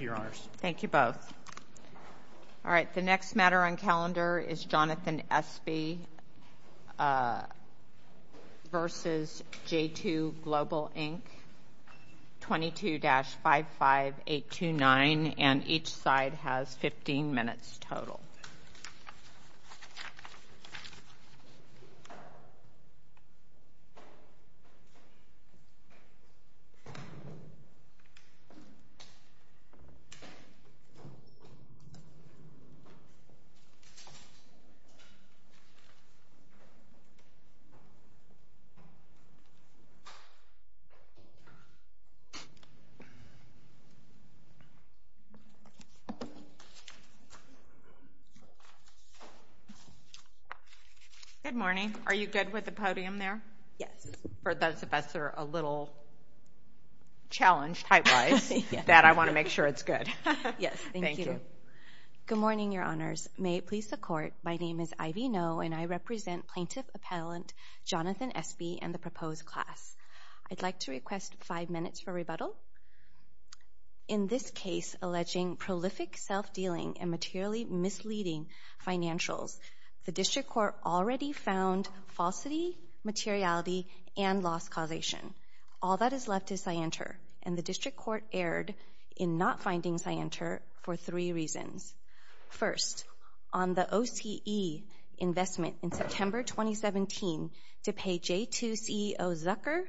22-55829, and each side has 15 minutes total. Good morning. Are you good with the podium there? Yes. This is, for those of us who are a little challenged typewise, that I want to make sure it's good. Thank you. Thank you. Good morning, Your Honors. May it please the Court, my name is Ivy Ngo, and I represent Plaintiff Appellant Jonathan Espy and the proposed class. I'd like to request five minutes for rebuttal. In this case alleging prolific self-dealing and materially misleading financials, the All that is left is scienter, and the District Court erred in not finding scienter for three reasons. First, on the OCE investment in September 2017 to pay J2 CEO Zucker,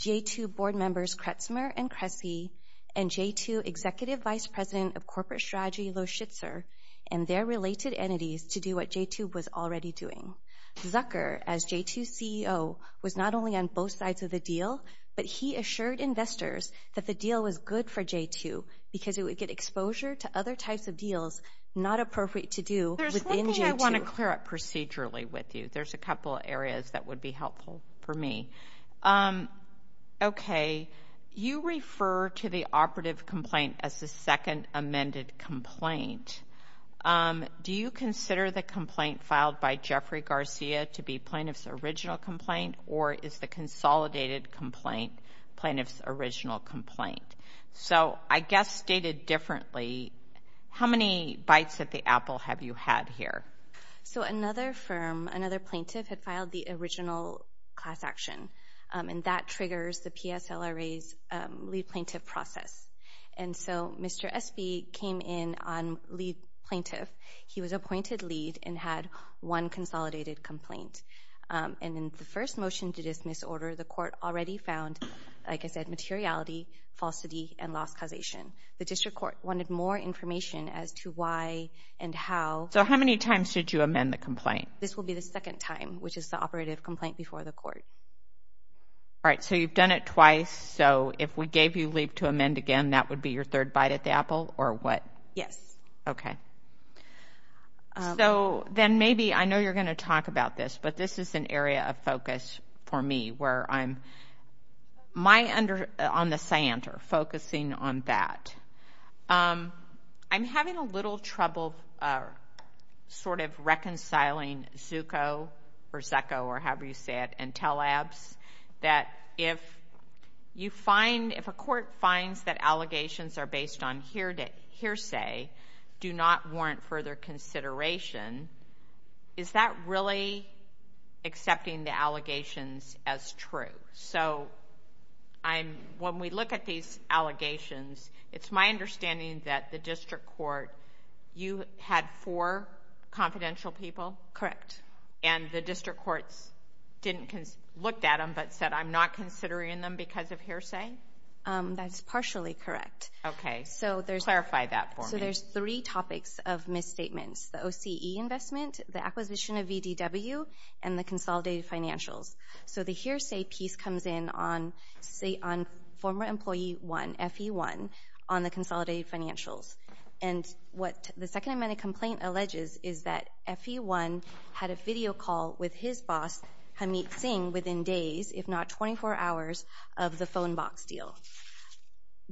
J2 Board members Kretzmer and Kresge, and J2 Executive Vice President of Corporate Strategy Lo Schitzer and their related entities to do what J2 was already doing. Zucker, as J2 CEO, was not only on both sides of the deal, but he assured investors that the deal was good for J2 because it would get exposure to other types of deals not appropriate to do within J2. There's one thing I want to clear up procedurally with you. There's a couple areas that would be helpful for me. Okay, you refer to the operative complaint as the second amended complaint. Do you consider the complaint filed by Jeffrey Garcia to be plaintiff's original complaint or is the consolidated complaint plaintiff's original complaint? So I guess stated differently, how many bites at the apple have you had here? So another firm, another plaintiff had filed the original class action, and that triggers the PSLRA's lead plaintiff process. And so Mr. Espy came in on lead plaintiff. He was appointed lead and had one consolidated complaint, and in the first motion to dismiss order the court already found, like I said, materiality, falsity, and lost causation. The district court wanted more information as to why and how. So how many times did you amend the complaint? This will be the second time, which is the operative complaint before the court. All right, so you've done it twice. So if we gave you leave to amend again, that would be your third bite at the apple, or what? Yes. Okay. So then maybe, I know you're going to talk about this, but this is an area of focus for me where I'm, my under, on the CIANTR, focusing on that. I'm having a little trouble sort of reconciling ZUCCO, or ZECCO, or however you say it, and that if you find, if a court finds that allegations are based on hearsay, do not warrant further consideration, is that really accepting the allegations as true? So I'm, when we look at these allegations, it's my understanding that the district court, you had four confidential people? Correct. And the district courts didn't, looked at them, but said, I'm not considering them because of hearsay? That's partially correct. Okay. So there's... Clarify that for me. So there's three topics of misstatements, the OCE investment, the acquisition of VDW, and the consolidated financials. So the hearsay piece comes in on former employee one, FE1, on the consolidated financials. And what the second amendment complaint alleges is that FE1 had a video call with his boss, Hameet Singh, within days, if not 24 hours, of the phone box deal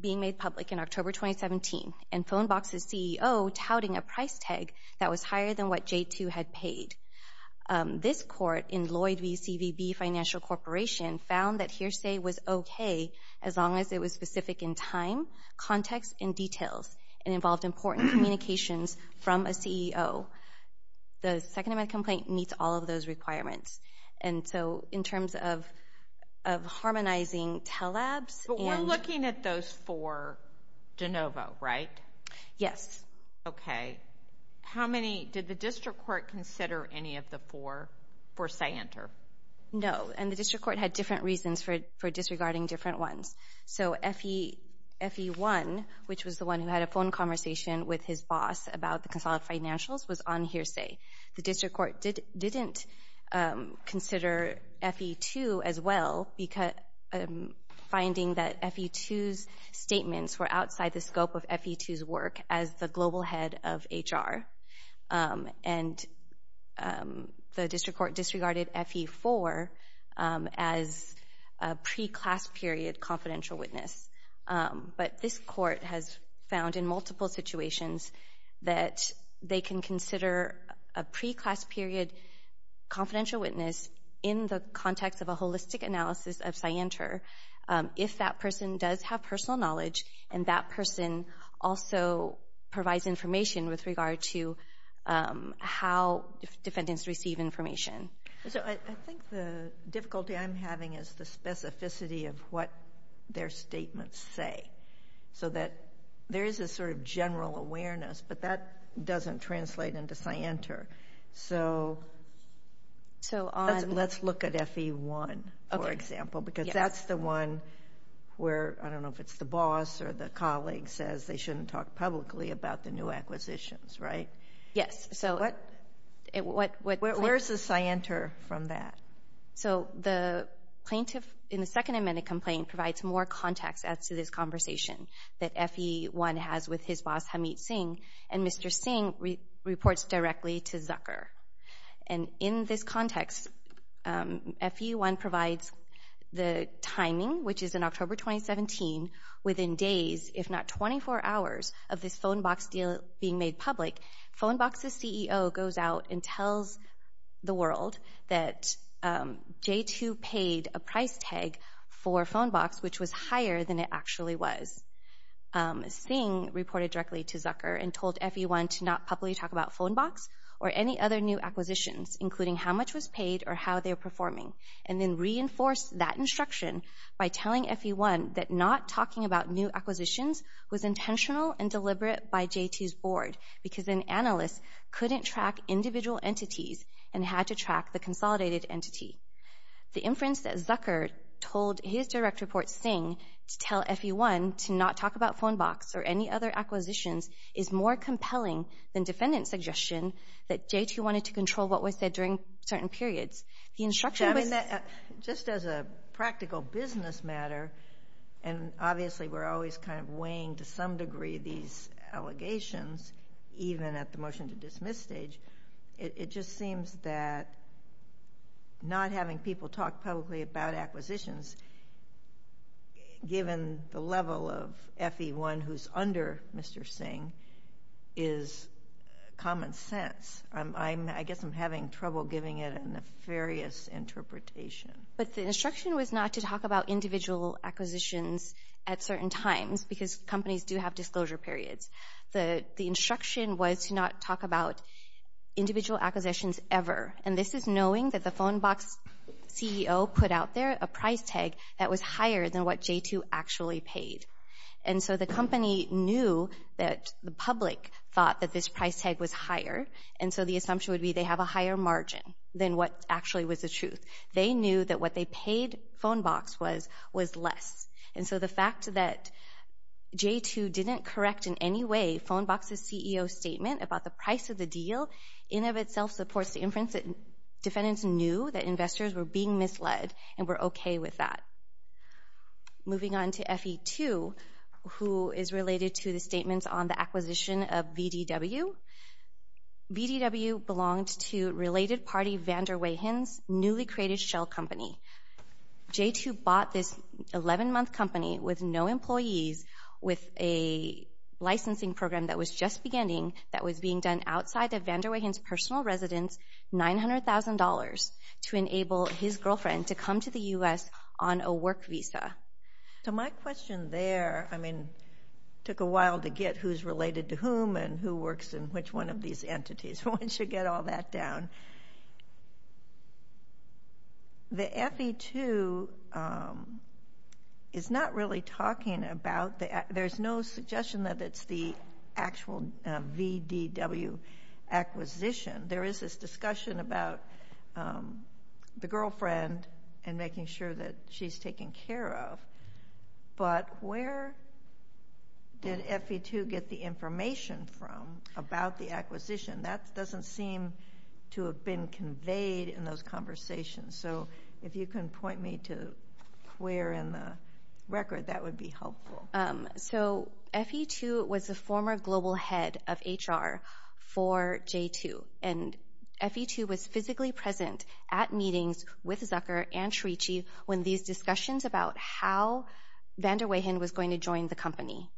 being made public in October 2017, and phone box's CEO touting a price tag that was higher than what J2 had paid. This court in Lloyd v. CVB Financial Corporation found that hearsay was okay as long as it was specific in time, context, and details, and involved important communications from a CEO. The second amendment complaint meets all of those requirements. And so, in terms of harmonizing TELABs and... But we're looking at those four de novo, right? Yes. Okay. How many... Did the district court consider any of the four for say-enter? No. And the district court had different reasons for disregarding different ones. So, FE1, which was the one who had a phone conversation with his boss about the consolidated financials, was on hearsay. The district court didn't consider FE2 as well, finding that FE2's statements were outside the scope of FE2's work as the global head of HR. And the district court disregarded FE4 as a pre-class period confidential witness. But this court has found in multiple situations that they can consider a pre-class period confidential witness in the context of a holistic analysis of say-enter if that person does have personal knowledge and that person also provides information with regard to how defendants receive information. So, I think the difficulty I'm having is the specificity of what their statements say, so that there is a sort of general awareness, but that doesn't translate into say-enter. So let's look at FE1, for example, because that's the one where, I don't know, if it's the boss or the colleague says they shouldn't talk publicly about the new acquisitions, right? Yes. So, where's the say-enter from that? So the plaintiff in the Second Amendment complaint provides more context as to this conversation that FE1 has with his boss, Hamid Singh, and Mr. Singh reports directly to Zucker. And in this context, FE1 provides the timing, which is in October 2017, within days, if not 24 hours, of this phone box deal being made public. Phone box's CEO goes out and tells the world that J2 paid a price tag for phone box, which was higher than it actually was. Singh reported directly to Zucker and told FE1 to not publicly talk about phone box or any other new acquisitions, including how much was paid or how they were performing, and then reinforced that instruction by telling FE1 that not talking about new acquisitions was intentional and deliberate by J2's board, because an analyst couldn't track individual entities and had to track the consolidated entity. The inference that Zucker told his direct report, Singh, to tell FE1 to not talk about that J2 wanted to control what was said during certain periods. The instruction was... So, I mean, just as a practical business matter, and obviously we're always kind of weighing to some degree these allegations, even at the motion to dismiss stage, it just seems that not having people talk publicly about acquisitions, given the level of FE1 who's under Mr. Singh, is common sense. I guess I'm having trouble giving it a nefarious interpretation. But the instruction was not to talk about individual acquisitions at certain times, because companies do have disclosure periods. The instruction was to not talk about individual acquisitions ever, and this is knowing that the phone box CEO put out there a price tag that was higher than what J2 actually paid. And so the company knew that the public thought that this price tag was higher, and so the assumption would be they have a higher margin than what actually was the truth. They knew that what they paid phone box was less. And so the fact that J2 didn't correct in any way phone box's CEO statement about the price of the deal, in of itself supports the inference that defendants knew that investors were being misled and were okay with that. Moving on to FE2, who is related to the statements on the acquisition of VDW. VDW belonged to related party VanderWeehens, newly created shell company. J2 bought this 11-month company with no employees, with a licensing program that was just beginning that was being done outside of VanderWeehens' personal residence, $900,000, to enable his work visa. So my question there, I mean, took a while to get who's related to whom and who works in which one of these entities. Why don't you get all that down? The FE2 is not really talking about, there's no suggestion that it's the actual VDW acquisition. There is this discussion about the girlfriend and making sure that she's taken care of. But where did FE2 get the information from about the acquisition? That doesn't seem to have been conveyed in those conversations. So if you can point me to where in the record, that would be helpful. So FE2 was the former global head of HR for J2. And FE2 was physically present at meetings with Zucker and Shreechi when these discussions about how VanderWeehen was going to join the company.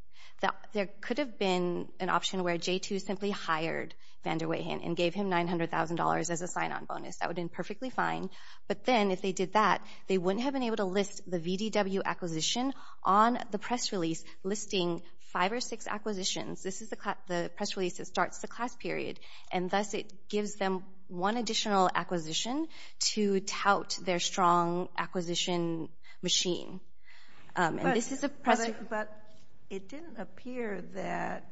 There could have been an option where J2 simply hired VanderWeehen and gave him $900,000 as a sign-on bonus. That would have been perfectly fine. But then if they did that, they wouldn't have been able to list the VDW acquisition on the press release listing five or six acquisitions. This is the press release that starts the class period. And thus, it gives them one additional acquisition to tout their strong acquisition machine. But it didn't appear that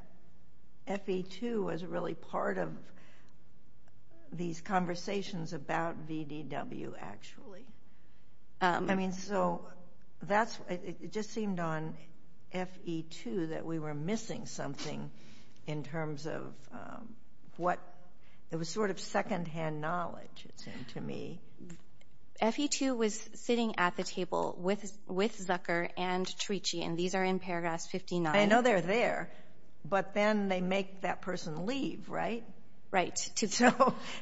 FE2 was really part of these conversations about VDW, actually. I mean, so it just seemed on FE2 that we were missing something in terms of what... It was sort of secondhand knowledge, it seemed to me. FE2 was sitting at the table with Zucker and Shreechi. And these are in paragraph 59. I know they're there. But then they make that person leave, right? Right.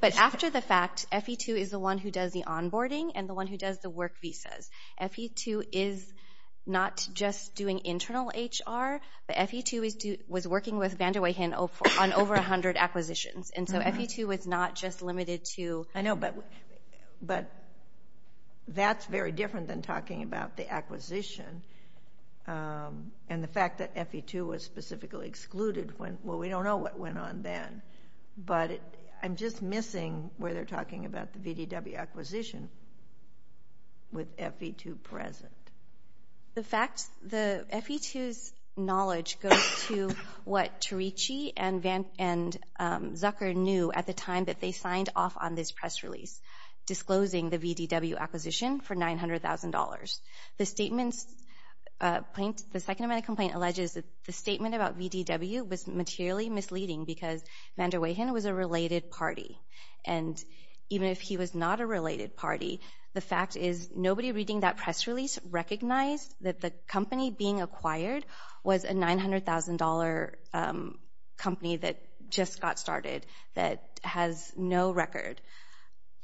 But after the fact, FE2 is the one who does the onboarding and the one who does the work visas. FE2 is not just doing internal HR. But FE2 was working with VanderWeehen on over 100 acquisitions. And so FE2 was not just limited to... I know, but that's very different than talking about the acquisition. And the fact that FE2 was specifically excluded, well, we don't know what went on then. But I'm just missing where they're talking about the VDW acquisition with FE2 present. The fact, the FE2's knowledge goes to what Shreechi and Zucker knew at the time that they signed off on this press release, disclosing the VDW acquisition for $900,000. The statement, the second amendment complaint alleges that the statement about VDW was materially misleading because VanderWeehen was a related party. And even if he was not a related party, the fact is nobody reading that press release recognized that the company being acquired was a $900,000 company that just got started, that has no record.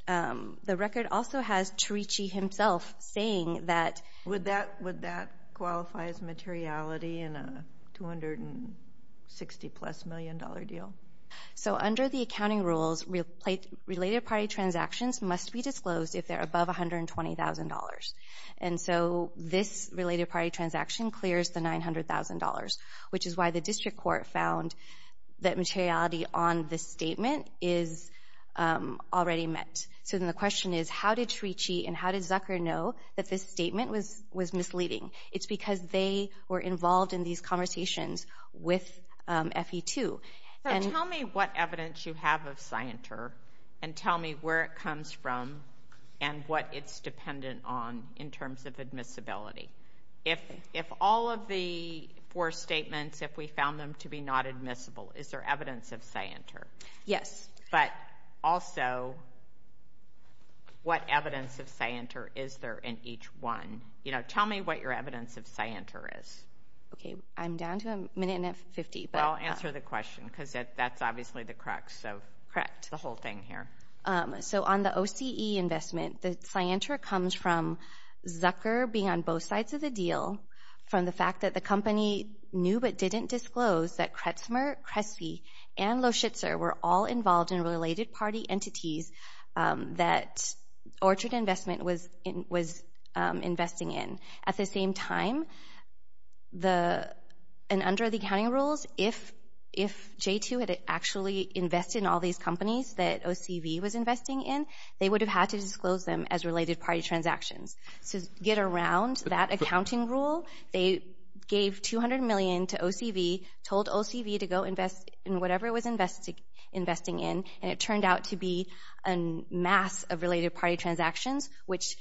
The record also has Shreechi himself saying that... Would that qualify as materiality in a $260-plus million deal? So under the accounting rules, related party transactions must be disclosed if they're above $120,000. And so this related party transaction clears the $900,000, which is why the district court found that materiality on this statement is already met. So then the question is, how did Shreechi and how did Zucker know that this statement was misleading? It's because they were involved in these conversations with FE2. So tell me what evidence you have of scienter and tell me where it comes from and what it's dependent on in terms of admissibility. If all of the four statements, if we found them to be not admissible, is there evidence of scienter? Yes. But also, what evidence of scienter is there in each one? Tell me what your evidence of scienter is. Okay. I'm down to a minute and a half, 50, but... I'll answer the question because that's obviously the crux of the whole thing here. So on the OCE investment, the scienter comes from Zucker being on both sides of the deal, from the fact that the company knew but didn't disclose that Kretzmer, Crespi, and Loschitzer were all involved in related party entities that Orchard Investment was investing in. At the same time, and under the accounting rules, if J2 had actually invested in all these companies that OCV was investing in, they would have had to disclose them as related party transactions. So to get around that accounting rule, they gave $200 million to OCV, told OCV to go invest in whatever it was investing in, and it turned out to be a mass of related party transactions, which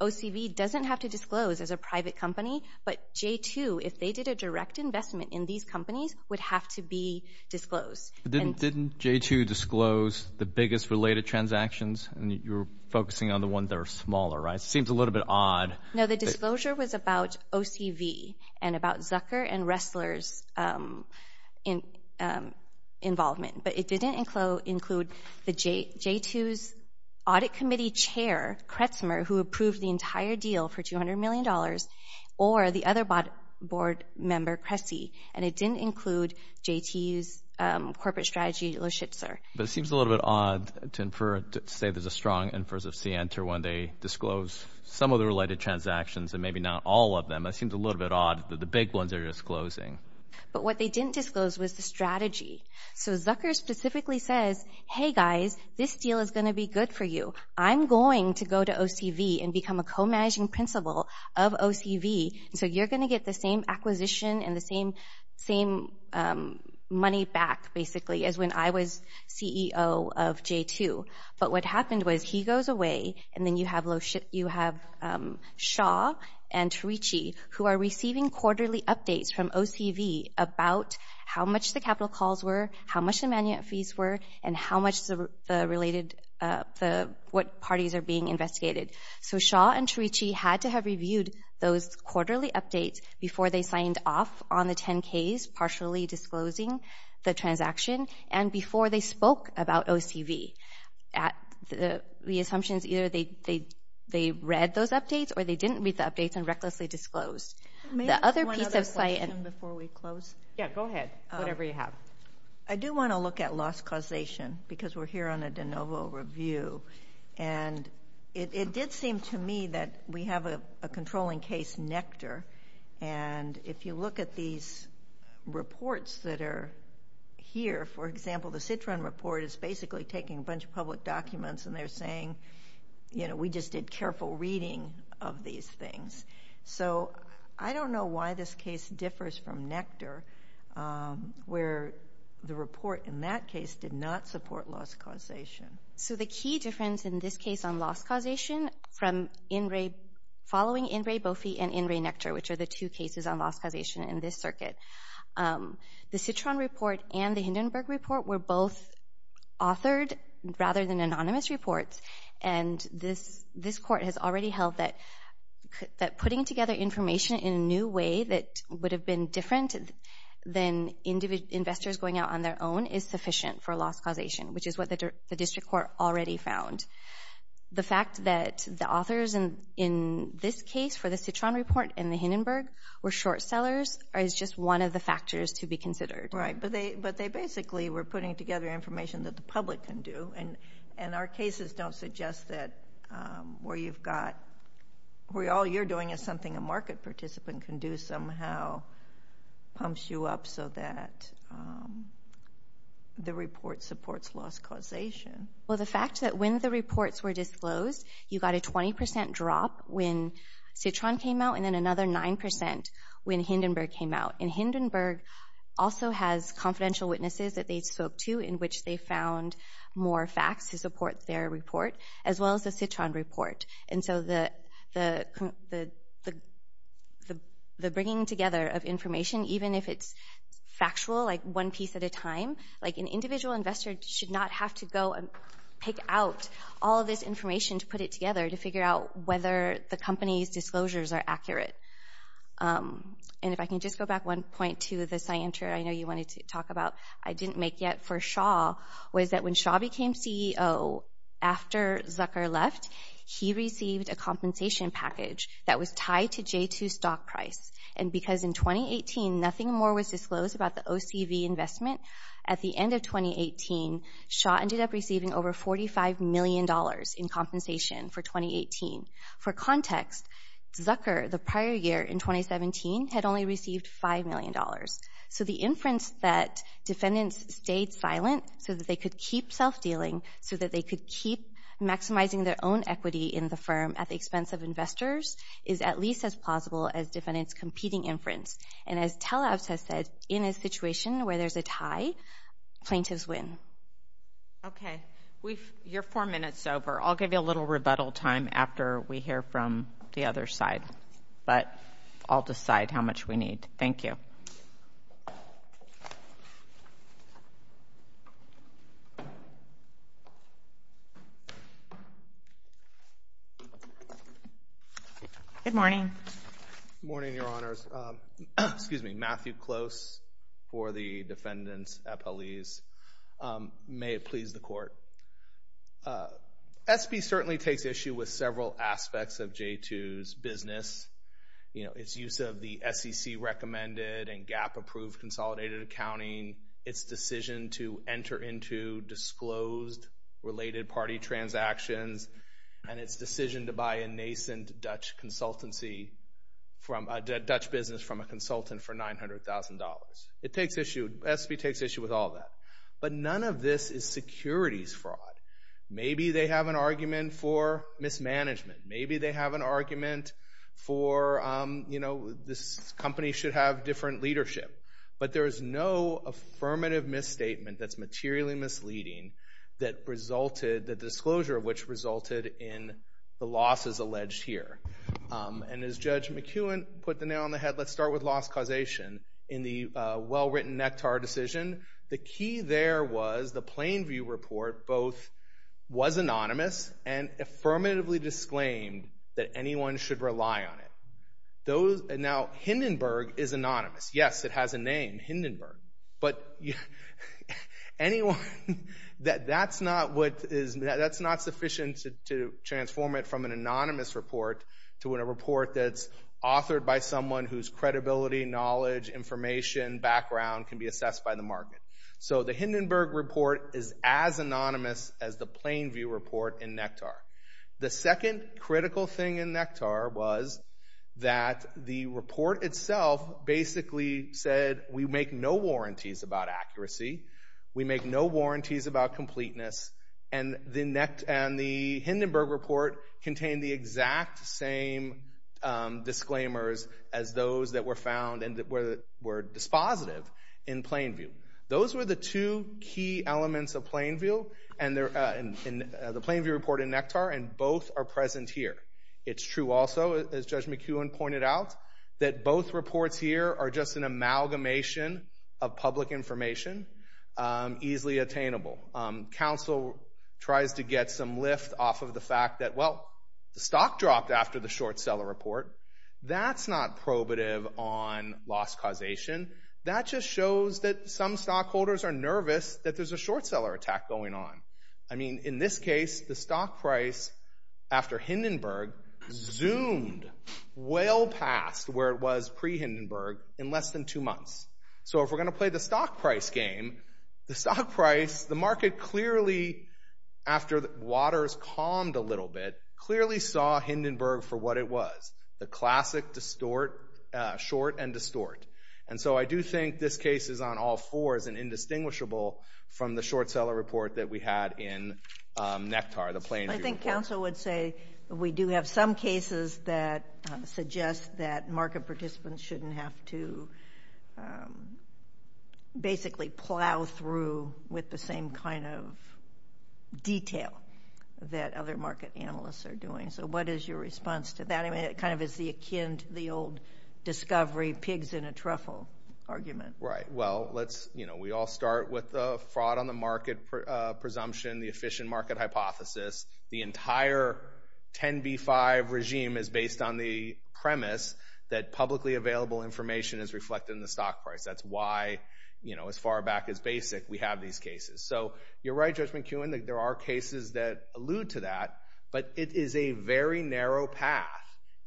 OCV doesn't have to disclose as a private company, but J2, if they did a direct investment in these companies, would have to be disclosed. Didn't J2 disclose the biggest related transactions? And you're focusing on the ones that are smaller, right? It seems a little bit odd. No, the disclosure was about OCV and about Zucker and Ressler's involvement, but it didn't include J2's audit committee chair, Kretzmer, who approved the entire deal for $200 million, or the other board member, Crespi, and it didn't include J2's corporate strategy, Loschitzer. But it seems a little bit odd to infer, to say there's a strong inference of scienter when they disclose some of the related transactions and maybe not all of them. It seems a little bit odd that the big ones are disclosing. But what they didn't disclose was the strategy. So Zucker specifically says, hey guys, this deal is going to be good for you. I'm going to go to OCV and become a co-managing principal of OCV, so you're going to get the same acquisition and the same money back, basically, as when I was CEO of J2. But what happened was he goes away, and then you have Shaw and Terici, who are receiving quarterly updates from OCV about how much the capital calls were, how much the manuat fees were, and what parties are being investigated. So Shaw and Terici had to have reviewed those quarterly updates before they signed off on the 10Ks, partially disclosing the transaction, and before they spoke about OCV. The assumption is either they read those updates or they didn't read the updates and recklessly disclosed. The other piece of site— May I ask one other question before we close? Yeah, go ahead. Whatever you have. I do want to look at loss causation, because we're here on a de novo review. And it did seem to me that we have a controlling case, Nectar. And if you look at these reports that are here, for example, the Citron report is basically taking a bunch of public documents, and they're saying, you know, we just did careful reading of these things. So I don't know why this case differs from Nectar, where the report in that case did not support loss causation. So the key difference in this case on loss causation from following NRA BOFI and NRA Nectar, which are the two cases on loss causation in this circuit, the Citron report and the rather than anonymous reports, and this Court has already held that putting together information in a new way that would have been different than investors going out on their own is sufficient for loss causation, which is what the district court already found. The fact that the authors in this case for the Citron report and the Hindenburg were short sellers is just one of the factors to be considered. Right, but they basically were putting together information that the public can do, and our cases don't suggest that where you've got, where all you're doing is something a market participant can do somehow pumps you up so that the report supports loss causation. Well, the fact that when the reports were disclosed, you got a 20% drop when Citron came out and then another 9% when Hindenburg came out. And Hindenburg also has confidential witnesses that they spoke to in which they found more facts to support their report as well as the Citron report. And so the bringing together of information, even if it's factual, like one piece at a time, like an individual investor should not have to go and pick out all this information to put it together to figure out whether the company's disclosures are accurate. And if I can just go back one point to the scienter I know you wanted to talk about, I didn't make yet for Shaw, was that when Shaw became CEO after Zucker left, he received a compensation package that was tied to J2 stock price. And because in 2018, nothing more was disclosed about the OCV investment, at the end of 2018, Shaw ended up receiving over $45 million in compensation for 2018. For context, Zucker, the prior year in 2017, had only received $5 million. So the inference that defendants stayed silent so that they could keep self-dealing, so that they could keep maximizing their own equity in the firm at the expense of investors, is at least as plausible as defendants' competing inference. And as Tellavs has said, in a situation where there's a tie, plaintiffs win. Okay. You're four minutes over. I'll give you a little rebuttal time after we hear from the other side. But I'll decide how much we need. Thank you. Good morning. Good morning, Your Honors. Excuse me. Matthew Close for the defendants' appellees. May it please the court. SB certainly takes issue with several aspects of J2's business. You know, its use of the SEC-recommended and GAAP-approved consolidated accounting, its decision to enter into disclosed related party transactions, and its decision to buy a nascent Dutch consultancy from a Dutch business from a consultant for $900,000. SB takes issue with all that. But none of this is securities fraud. Maybe they have an argument for mismanagement. Maybe they have an argument for, you know, this company should have different leadership. But there is no affirmative misstatement that's materially misleading that resulted, the disclosure of which resulted in the losses alleged here. And as Judge McEwen put the nail on the head, let's start with loss causation. In the well-written Nectar decision, the key there was the Plainview report both was anonymous and affirmatively disclaimed that anyone should rely on it. Now, Hindenburg is anonymous. Yes, it has a name, Hindenburg. But anyone, that's not what is, that's not sufficient to transform it from an anonymous report to a report that's authored by someone whose credibility, knowledge, information, background can be assessed by the market. So the Hindenburg report is as anonymous as the Plainview report in Nectar. The second critical thing in Nectar was that the report itself basically said, we make no warranties about accuracy. We make no warranties about completeness. And the Hindenburg report contained the exact same disclaimers as those that were found and that were dispositive in Plainview. Those were the two key elements of Plainview and the Plainview report in Nectar, and both are present here. It's true also, as Judge McEwen pointed out, that both reports here are just an amalgamation of public information, easily attainable. Counsel tries to get some lift off of the fact that, well, the stock dropped after the short seller report. That's not probative on loss causation. That just shows that some stockholders are nervous that there's a short seller attack going on. I mean, in this case, the stock price after Hindenburg zoomed well past where it was pre-Hindenburg in less than two months. So if we're going to play the stock price game, the market clearly, after waters calmed a little bit, clearly saw Hindenburg for what it was, the classic short and distort. And so I do think this case is on all fours and indistinguishable from the short seller report that we had in Nectar, the Plainview report. I think counsel would say we do have some cases that suggest that market participants shouldn't have to basically plow through with the same kind of detail that other market analysts are doing. So what is your response to that? I mean, it kind of is akin to the old discovery, pigs in a truffle argument. Right. Well, we all start with the fraud on the market presumption, the efficient market hypothesis. The entire 10B5 regime is based on the premise that publicly available information is reflected in the stock price. That's why, as far back as basic, we have these cases. So you're right, Judge McKeown, that there are cases that allude to that. But it is a very narrow path.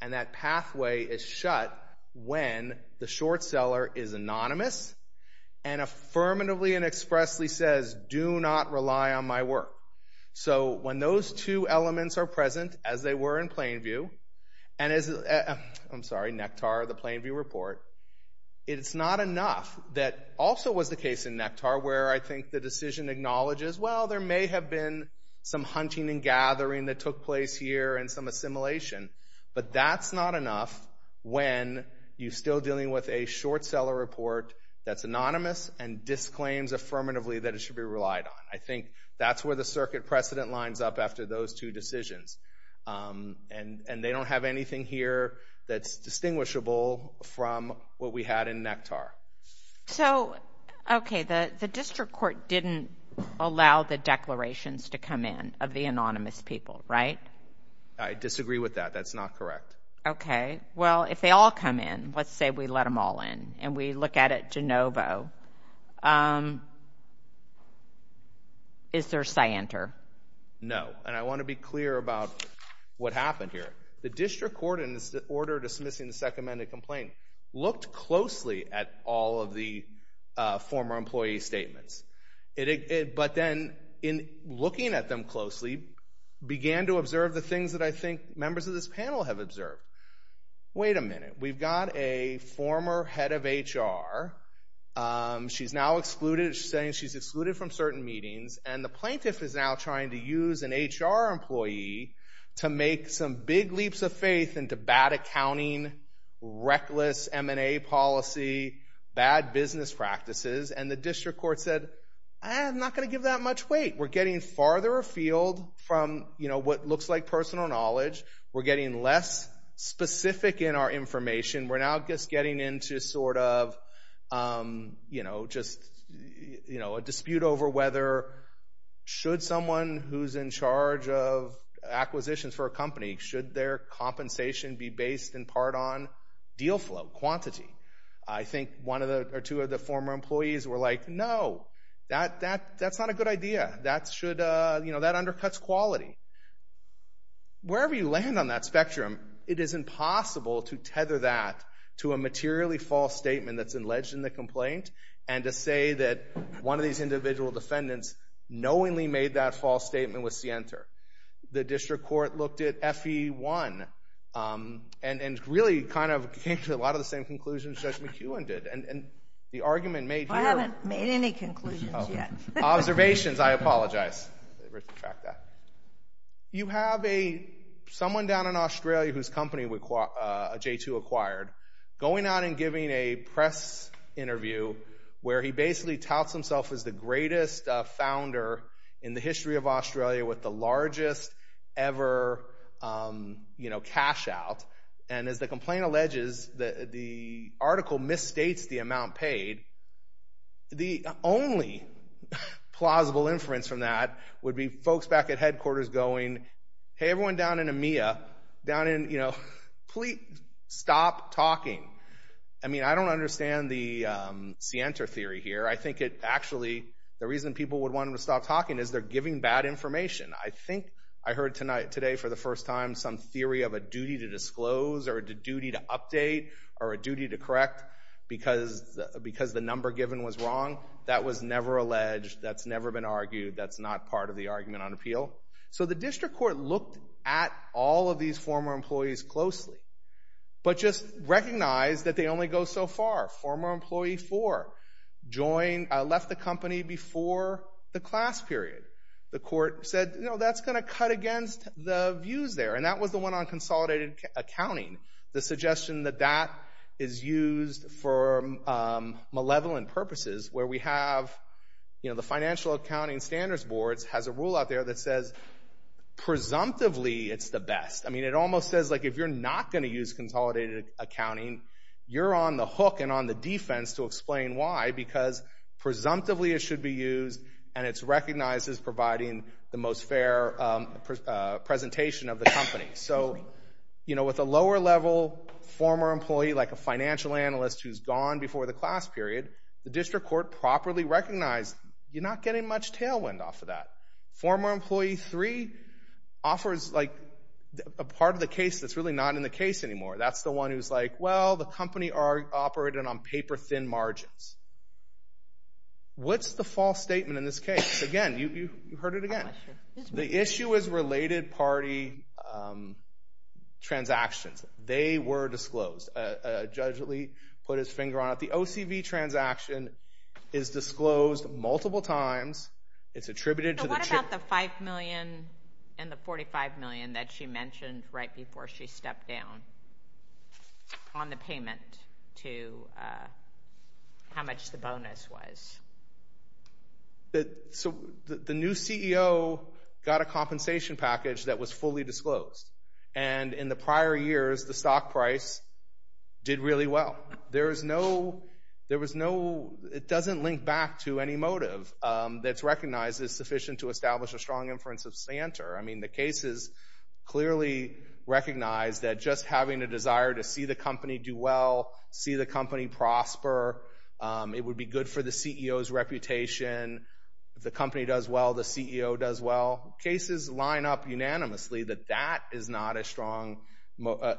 And that pathway is shut when the short seller is anonymous and affirmatively and expressly says, do not rely on my work. So when those two elements are present, as they were in Plainview, and as, I'm sorry, Nectar, the Plainview report, it's not enough. That also was the case in Nectar, where I think the decision acknowledges, well, there may have been some hunting and gathering that took place here and some assimilation. But that's not enough when you're still dealing with a short seller report that's anonymous and disclaims affirmatively that it should be relied on. I think that's where the circuit precedent lines up after those two decisions. And they don't have anything here that's distinguishable from what we had in Nectar. So, okay, the district court didn't allow the declarations to come in of the anonymous people, right? I disagree with that. That's not correct. Okay. Well, if they all come in, let's say we let them all in and we look at it de novo, is there scienter? No. And I want to be clear about what happened here. The district court, in its order dismissing the second amended complaint, looked closely at all of the former employee statements. But then, in looking at them closely, began to observe the things that I think members of this panel have observed. Wait a minute. We've got a former head of HR. She's now saying she's excluded from certain meetings, and the plaintiff is now trying to use an HR employee to make some big leaps of faith into bad accounting, reckless M&A policy, bad business practices. And the district court said, I'm not going to give that much weight. We're getting farther afield from what looks like personal knowledge. We're getting less specific in our information. We're now just getting into a dispute over whether, should someone who's in charge of acquisitions for a company, should their compensation be based in part on deal flow, quantity? I think one or two of the former employees were like, no, that's not a good idea. That undercuts quality. Wherever you land on that spectrum, it is impossible to tether that to a materially false statement that's alleged in the complaint, and to say that one of these individual defendants knowingly made that false statement with Sienter. The district court looked at FE1, and really kind of came to a lot of the same conclusions Judge McEwen did. And the argument made here— I haven't made any conclusions yet. Observations. I apologize. Let me retract that. You have someone down in Australia whose company J2 acquired, going out and giving a press interview where he basically touts himself as the greatest founder in the history of Australia with the largest ever cash out. And as the complaint alleges, the article misstates the amount paid. The only plausible inference from that would be folks back at headquarters going, hey, everyone down in EMEA, please stop talking. I don't understand the Sienter theory here. I think actually the reason people would want to stop talking is they're giving bad information. I think I heard today for the first time some theory of a duty to disclose, or a duty to the number given was wrong. That was never alleged. That's never been argued. That's not part of the argument on appeal. So the district court looked at all of these former employees closely, but just recognized that they only go so far. Former employee 4 left the company before the class period. The court said, no, that's going to cut against the views there. And that was the one on consolidated accounting. The suggestion that that is used for malevolent purposes, where we have the financial accounting standards boards has a rule out there that says, presumptively, it's the best. I mean, it almost says, like, if you're not going to use consolidated accounting, you're on the hook and on the defense to explain why, because presumptively it should be used, and it's recognized as providing the most fair presentation of the company. So, you know, with a lower level former employee, like a financial analyst who's gone before the class period, the district court properly recognized, you're not getting much tailwind off of that. Former employee 3 offers, like, a part of the case that's really not in the case anymore. That's the one who's like, well, the company operated on paper-thin margins. What's the false statement in this case? Again, you heard it again. The issue is related party transactions. They were disclosed. Judge Lee put his finger on it. The OCV transaction is disclosed multiple times. It's attributed to the- So what about the $5 million and the $45 million that she mentioned right before she stepped down on the payment to how much the bonus was? So the new CEO got a compensation package that was fully disclosed, and in the prior years, the stock price did really well. There is no- there was no- it doesn't link back to any motive that's recognized as sufficient to establish a strong inference of stanter. I mean, the cases clearly recognize that just having a desire to see the company do well, see the company prosper, it would be good for the CEO to do well. CEO's reputation, if the company does well, the CEO does well. Cases line up unanimously that that is not a strong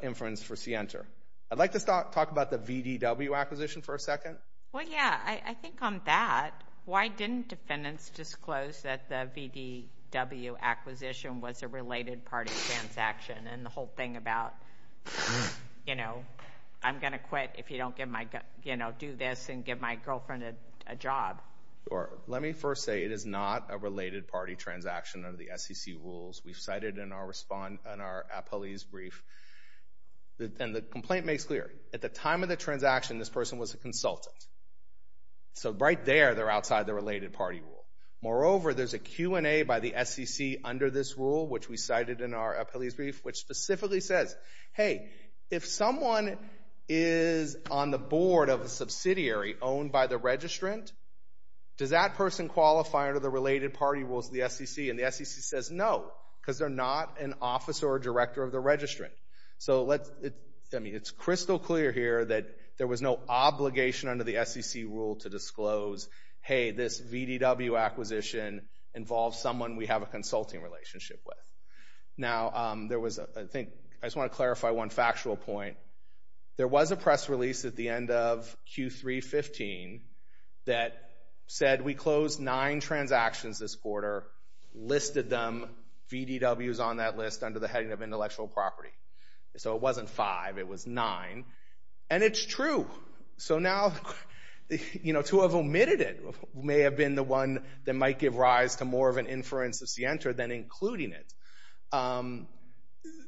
inference for scienter. I'd like to talk about the VDW acquisition for a second. Well, yeah. I think on that, why didn't defendants disclose that the VDW acquisition was a related party transaction and the whole thing about, you know, I'm going to quit if you don't give my- you know, do this and give my girlfriend a job. Sure. Let me first say it is not a related party transaction under the SEC rules. We've cited in our response- in our appellee's brief, and the complaint makes clear. At the time of the transaction, this person was a consultant. So right there, they're outside the related party rule. Moreover, there's a Q&A by the SEC under this rule, which we cited in our appellee's brief, which specifically says, hey, if someone is on the board of a subsidiary owned by the registrant, does that person qualify under the related party rules of the SEC? And the SEC says no, because they're not an officer or director of the registrant. So let's- I mean, it's crystal clear here that there was no obligation under the SEC rule to disclose, hey, this VDW acquisition involves someone we have a consulting relationship with. Now, there was, I think- I just want to clarify one factual point. There was a press release at the end of Q3-15 that said we closed nine transactions this quarter, listed them, VDWs on that list under the heading of intellectual property. So it wasn't five, it was nine. And it's true. So now, you know, to have omitted it may have been the one that might give rise to more of an inference of scienter than including it.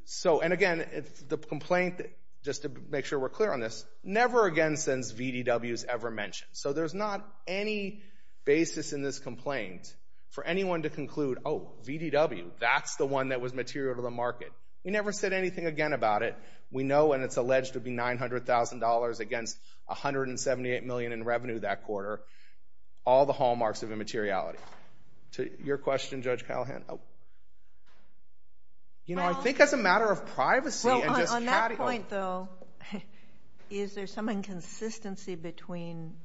So, and again, the complaint, just to make sure we're clear on this, never again since VDWs ever mentioned. So there's not any basis in this complaint for anyone to conclude, oh, VDW, that's the one that was material to the market. We never said anything again about it. We know, and it's alleged to be $900,000 against $178 million in revenue that quarter, all the hallmarks of immateriality. Your question, Judge Callahan? You know, I think as a matter of privacy- Well, on that point, though, is there some inconsistency between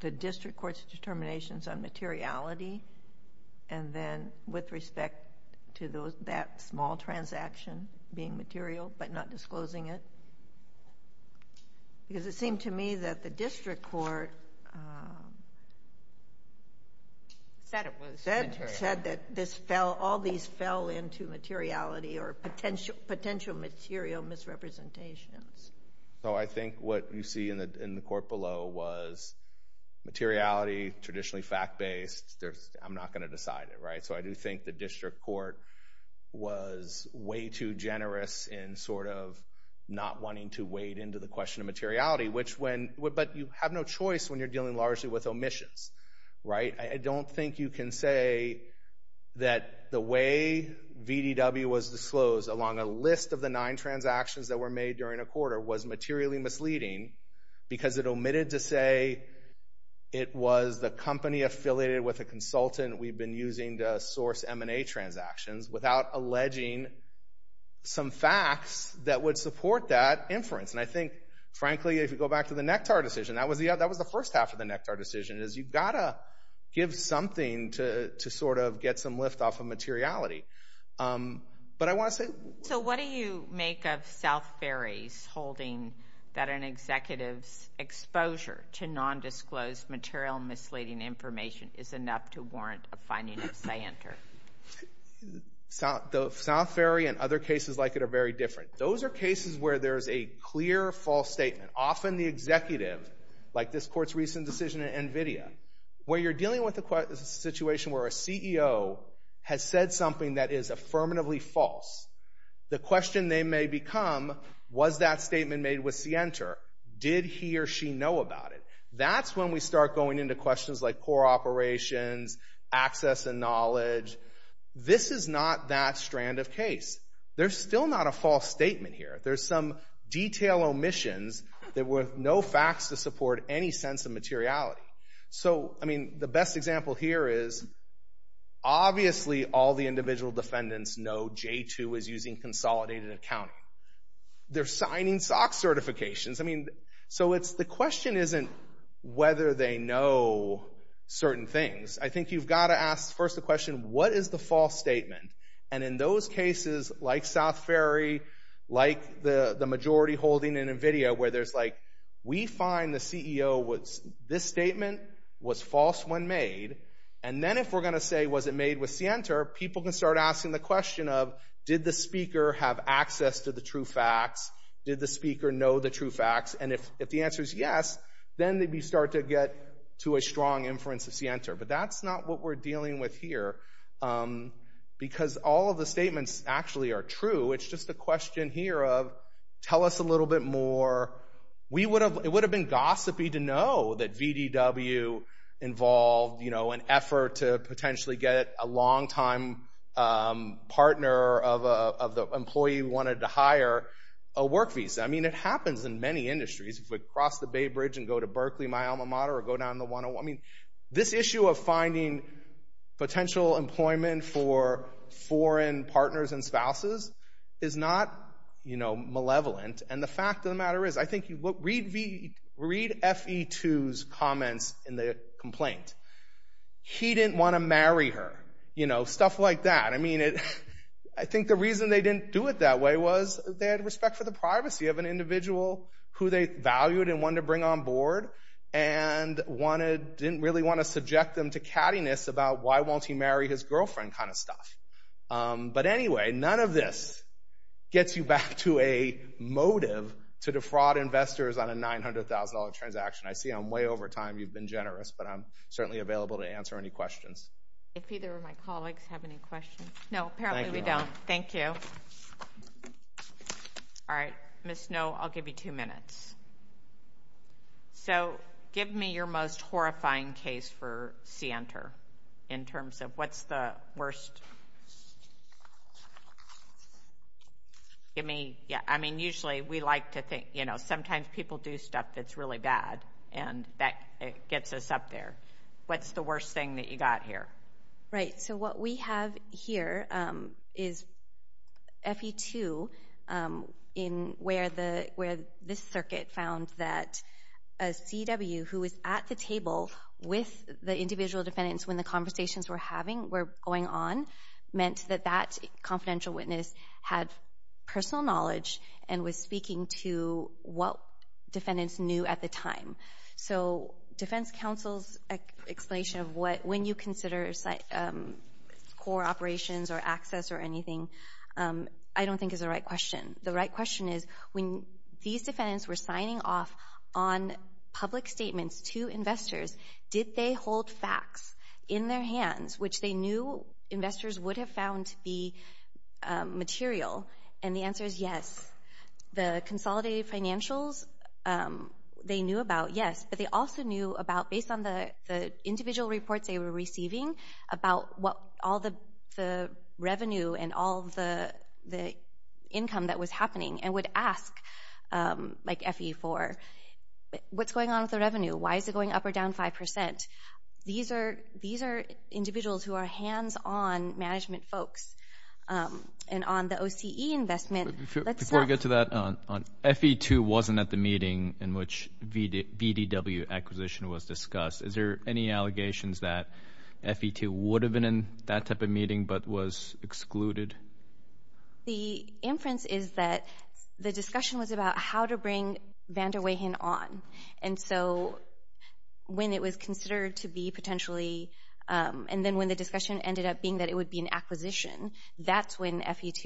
the district court's determinations on materiality and then with respect to that small transaction being material but not disclosing it? Because it seemed to me that the district court- Said it was material. Said that this fell, all these fell into materiality or potential material misrepresentations. So I think what you see in the court below was materiality, traditionally fact-based, there's, I'm not going to decide it, right? So I do think the district court was way too generous in sort of not wanting to weight into the question of materiality, but you have no choice when you're dealing largely with omissions, right? I don't think you can say that the way VDW was disclosed along a list of the nine transactions that were made during a quarter was materially misleading because it omitted to say it was the company affiliated with a consultant we'd been using to source M&A transactions without alleging some facts that would support that inference. And I think, frankly, if you go back to the Nectar decision, that was the first half of the Nectar decision, is you've got to give something to sort of get some lift off of materiality. But I want to say- So what do you make of South Ferry's holding that an executive's exposure to non-disclosed material misleading information is enough to warrant a finding of scienter? South Ferry and other cases like it are very different. Those are cases where there's a clear false statement, often the executive, like this court's recent decision in NVIDIA, where you're dealing with a situation where a CEO has said something that is affirmatively false. The question they may become, was that statement made with scienter? Did he or she know about it? That's when we start going into questions like core operations, access and knowledge. This is not that strand of case. There's still not a false statement here. There's some detail omissions that were no facts to support any sense of materiality. So, I mean, the best example here is obviously all the individual defendants know J2 is using consolidated accounting. They're signing SOX certifications. I mean, so it's- the question isn't whether they know certain things. I think you've got to ask first the question, what is the false statement? And in those cases, like South Ferry, like the majority holding in NVIDIA, where there's like, we find the CEO was- this statement was false when made. And then if we're going to say, was it made with scienter? People can start asking the question of, did the speaker have access to the true facts? Did the speaker know the true facts? And if the answer is yes, then they'd be start to get to a strong inference of scienter. But that's not what we're dealing with here. Because all of the statements actually are true. It's just a question here of, tell us a little bit more. We would have- it would have been gossipy to know that VDW involved, you know, an effort to potentially get a longtime partner of the employee who wanted to hire a work visa. I mean, it happens in many industries. If we cross the Bay Bridge and go to Berkeley, my alma mater, or go down the 101- I mean, this issue of finding potential employment for foreign partners and spouses is not, you know, malevolent. And the fact of the matter is, I think- read FE2's comments in the complaint. He didn't want to marry her. You know, stuff like that. I mean, I think the reason they didn't do it that way was they had respect for the privacy of an individual who they valued and wanted to bring on board and wanted- didn't really want to subject them to cattiness about why won't he marry his girlfriend kind of stuff. But anyway, none of this gets you back to a motive to defraud investors on a $900,000 transaction. I see I'm way over time. You've been generous, but I'm certainly available to answer any questions. If either of my colleagues have any questions. No, apparently we don't. Thank you. All right, Ms. Snow, I'll give you two minutes. So, give me your most horrifying case for Sienter in terms of what's the worst- give me- yeah, I mean, usually we like to think, you know, sometimes people do stuff that's really bad and that gets us up there. What's the worst thing that you got here? Right, so what we have here is FE2 where this circuit found that a CW who was at the table with the individual defendants when the conversations were going on meant that that confidential witness had personal knowledge and was speaking to what defendants knew at the time. So, defense counsel's explanation of when you consider core operations or access or anything I don't think is the right question. The right question is when these defendants were signing off on public statements to investors, did they hold facts in their hands which they knew investors would have found to be material? And the answer is yes. The consolidated financials, they knew about, yes, but they also knew about based on the individual reports they were receiving about what all the revenue and all the income that was happening and would ask like FE4, what's going on with the revenue? Why is it going up or down 5%? These are individuals who are hands-on management folks and on the OCE investment- Before we get to that, FE2 wasn't at the meeting in which VDW acquisition was discussed. Is there any allegations that FE2 would have been in that type of meeting but was excluded? The inference is that the discussion was about how to bring Van der Weyhen on and so when it was considered to be potentially and then when the discussion ended up being that it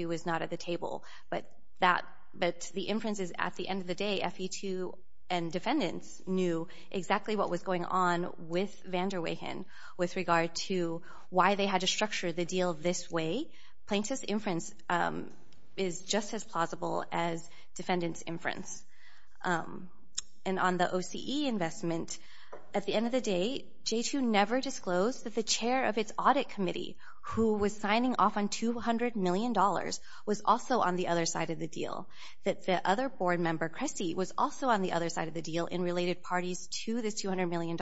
was not at the table, but the inference is at the end of the day, FE2 and defendants knew exactly what was going on with Van der Weyhen with regard to why they had to structure the deal this way. Plaintiff's inference is just as plausible as defendant's inference. And on the OCE investment, at the end of the day, J2 never disclosed that the chair of was also on the other side of the deal. That the other board member, Cressy, was also on the other side of the deal in related parties to this $200 million.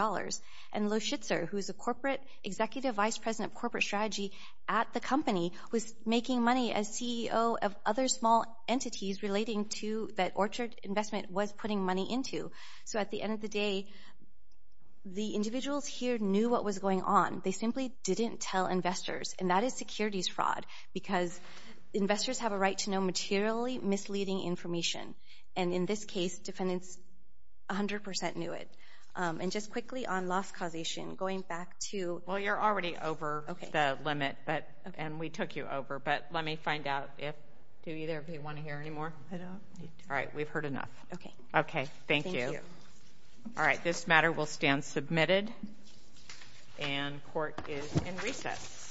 And Lo Schitzer, who's a corporate executive vice president of corporate strategy at the company, was making money as CEO of other small entities relating to that Orchard investment was putting money into. So at the end of the day, the individuals here knew what was going on. They simply didn't tell investors. And that is securities fraud, because investors have a right to know materially misleading information. And in this case, defendants 100% knew it. And just quickly on loss causation, going back to... Well, you're already over the limit, and we took you over, but let me find out if... Do either of you want to hear any more? I don't. All right. We've heard enough. Okay. Okay. Thank you. All right. This matter will stand submitted. And court is in recess.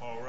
All rise.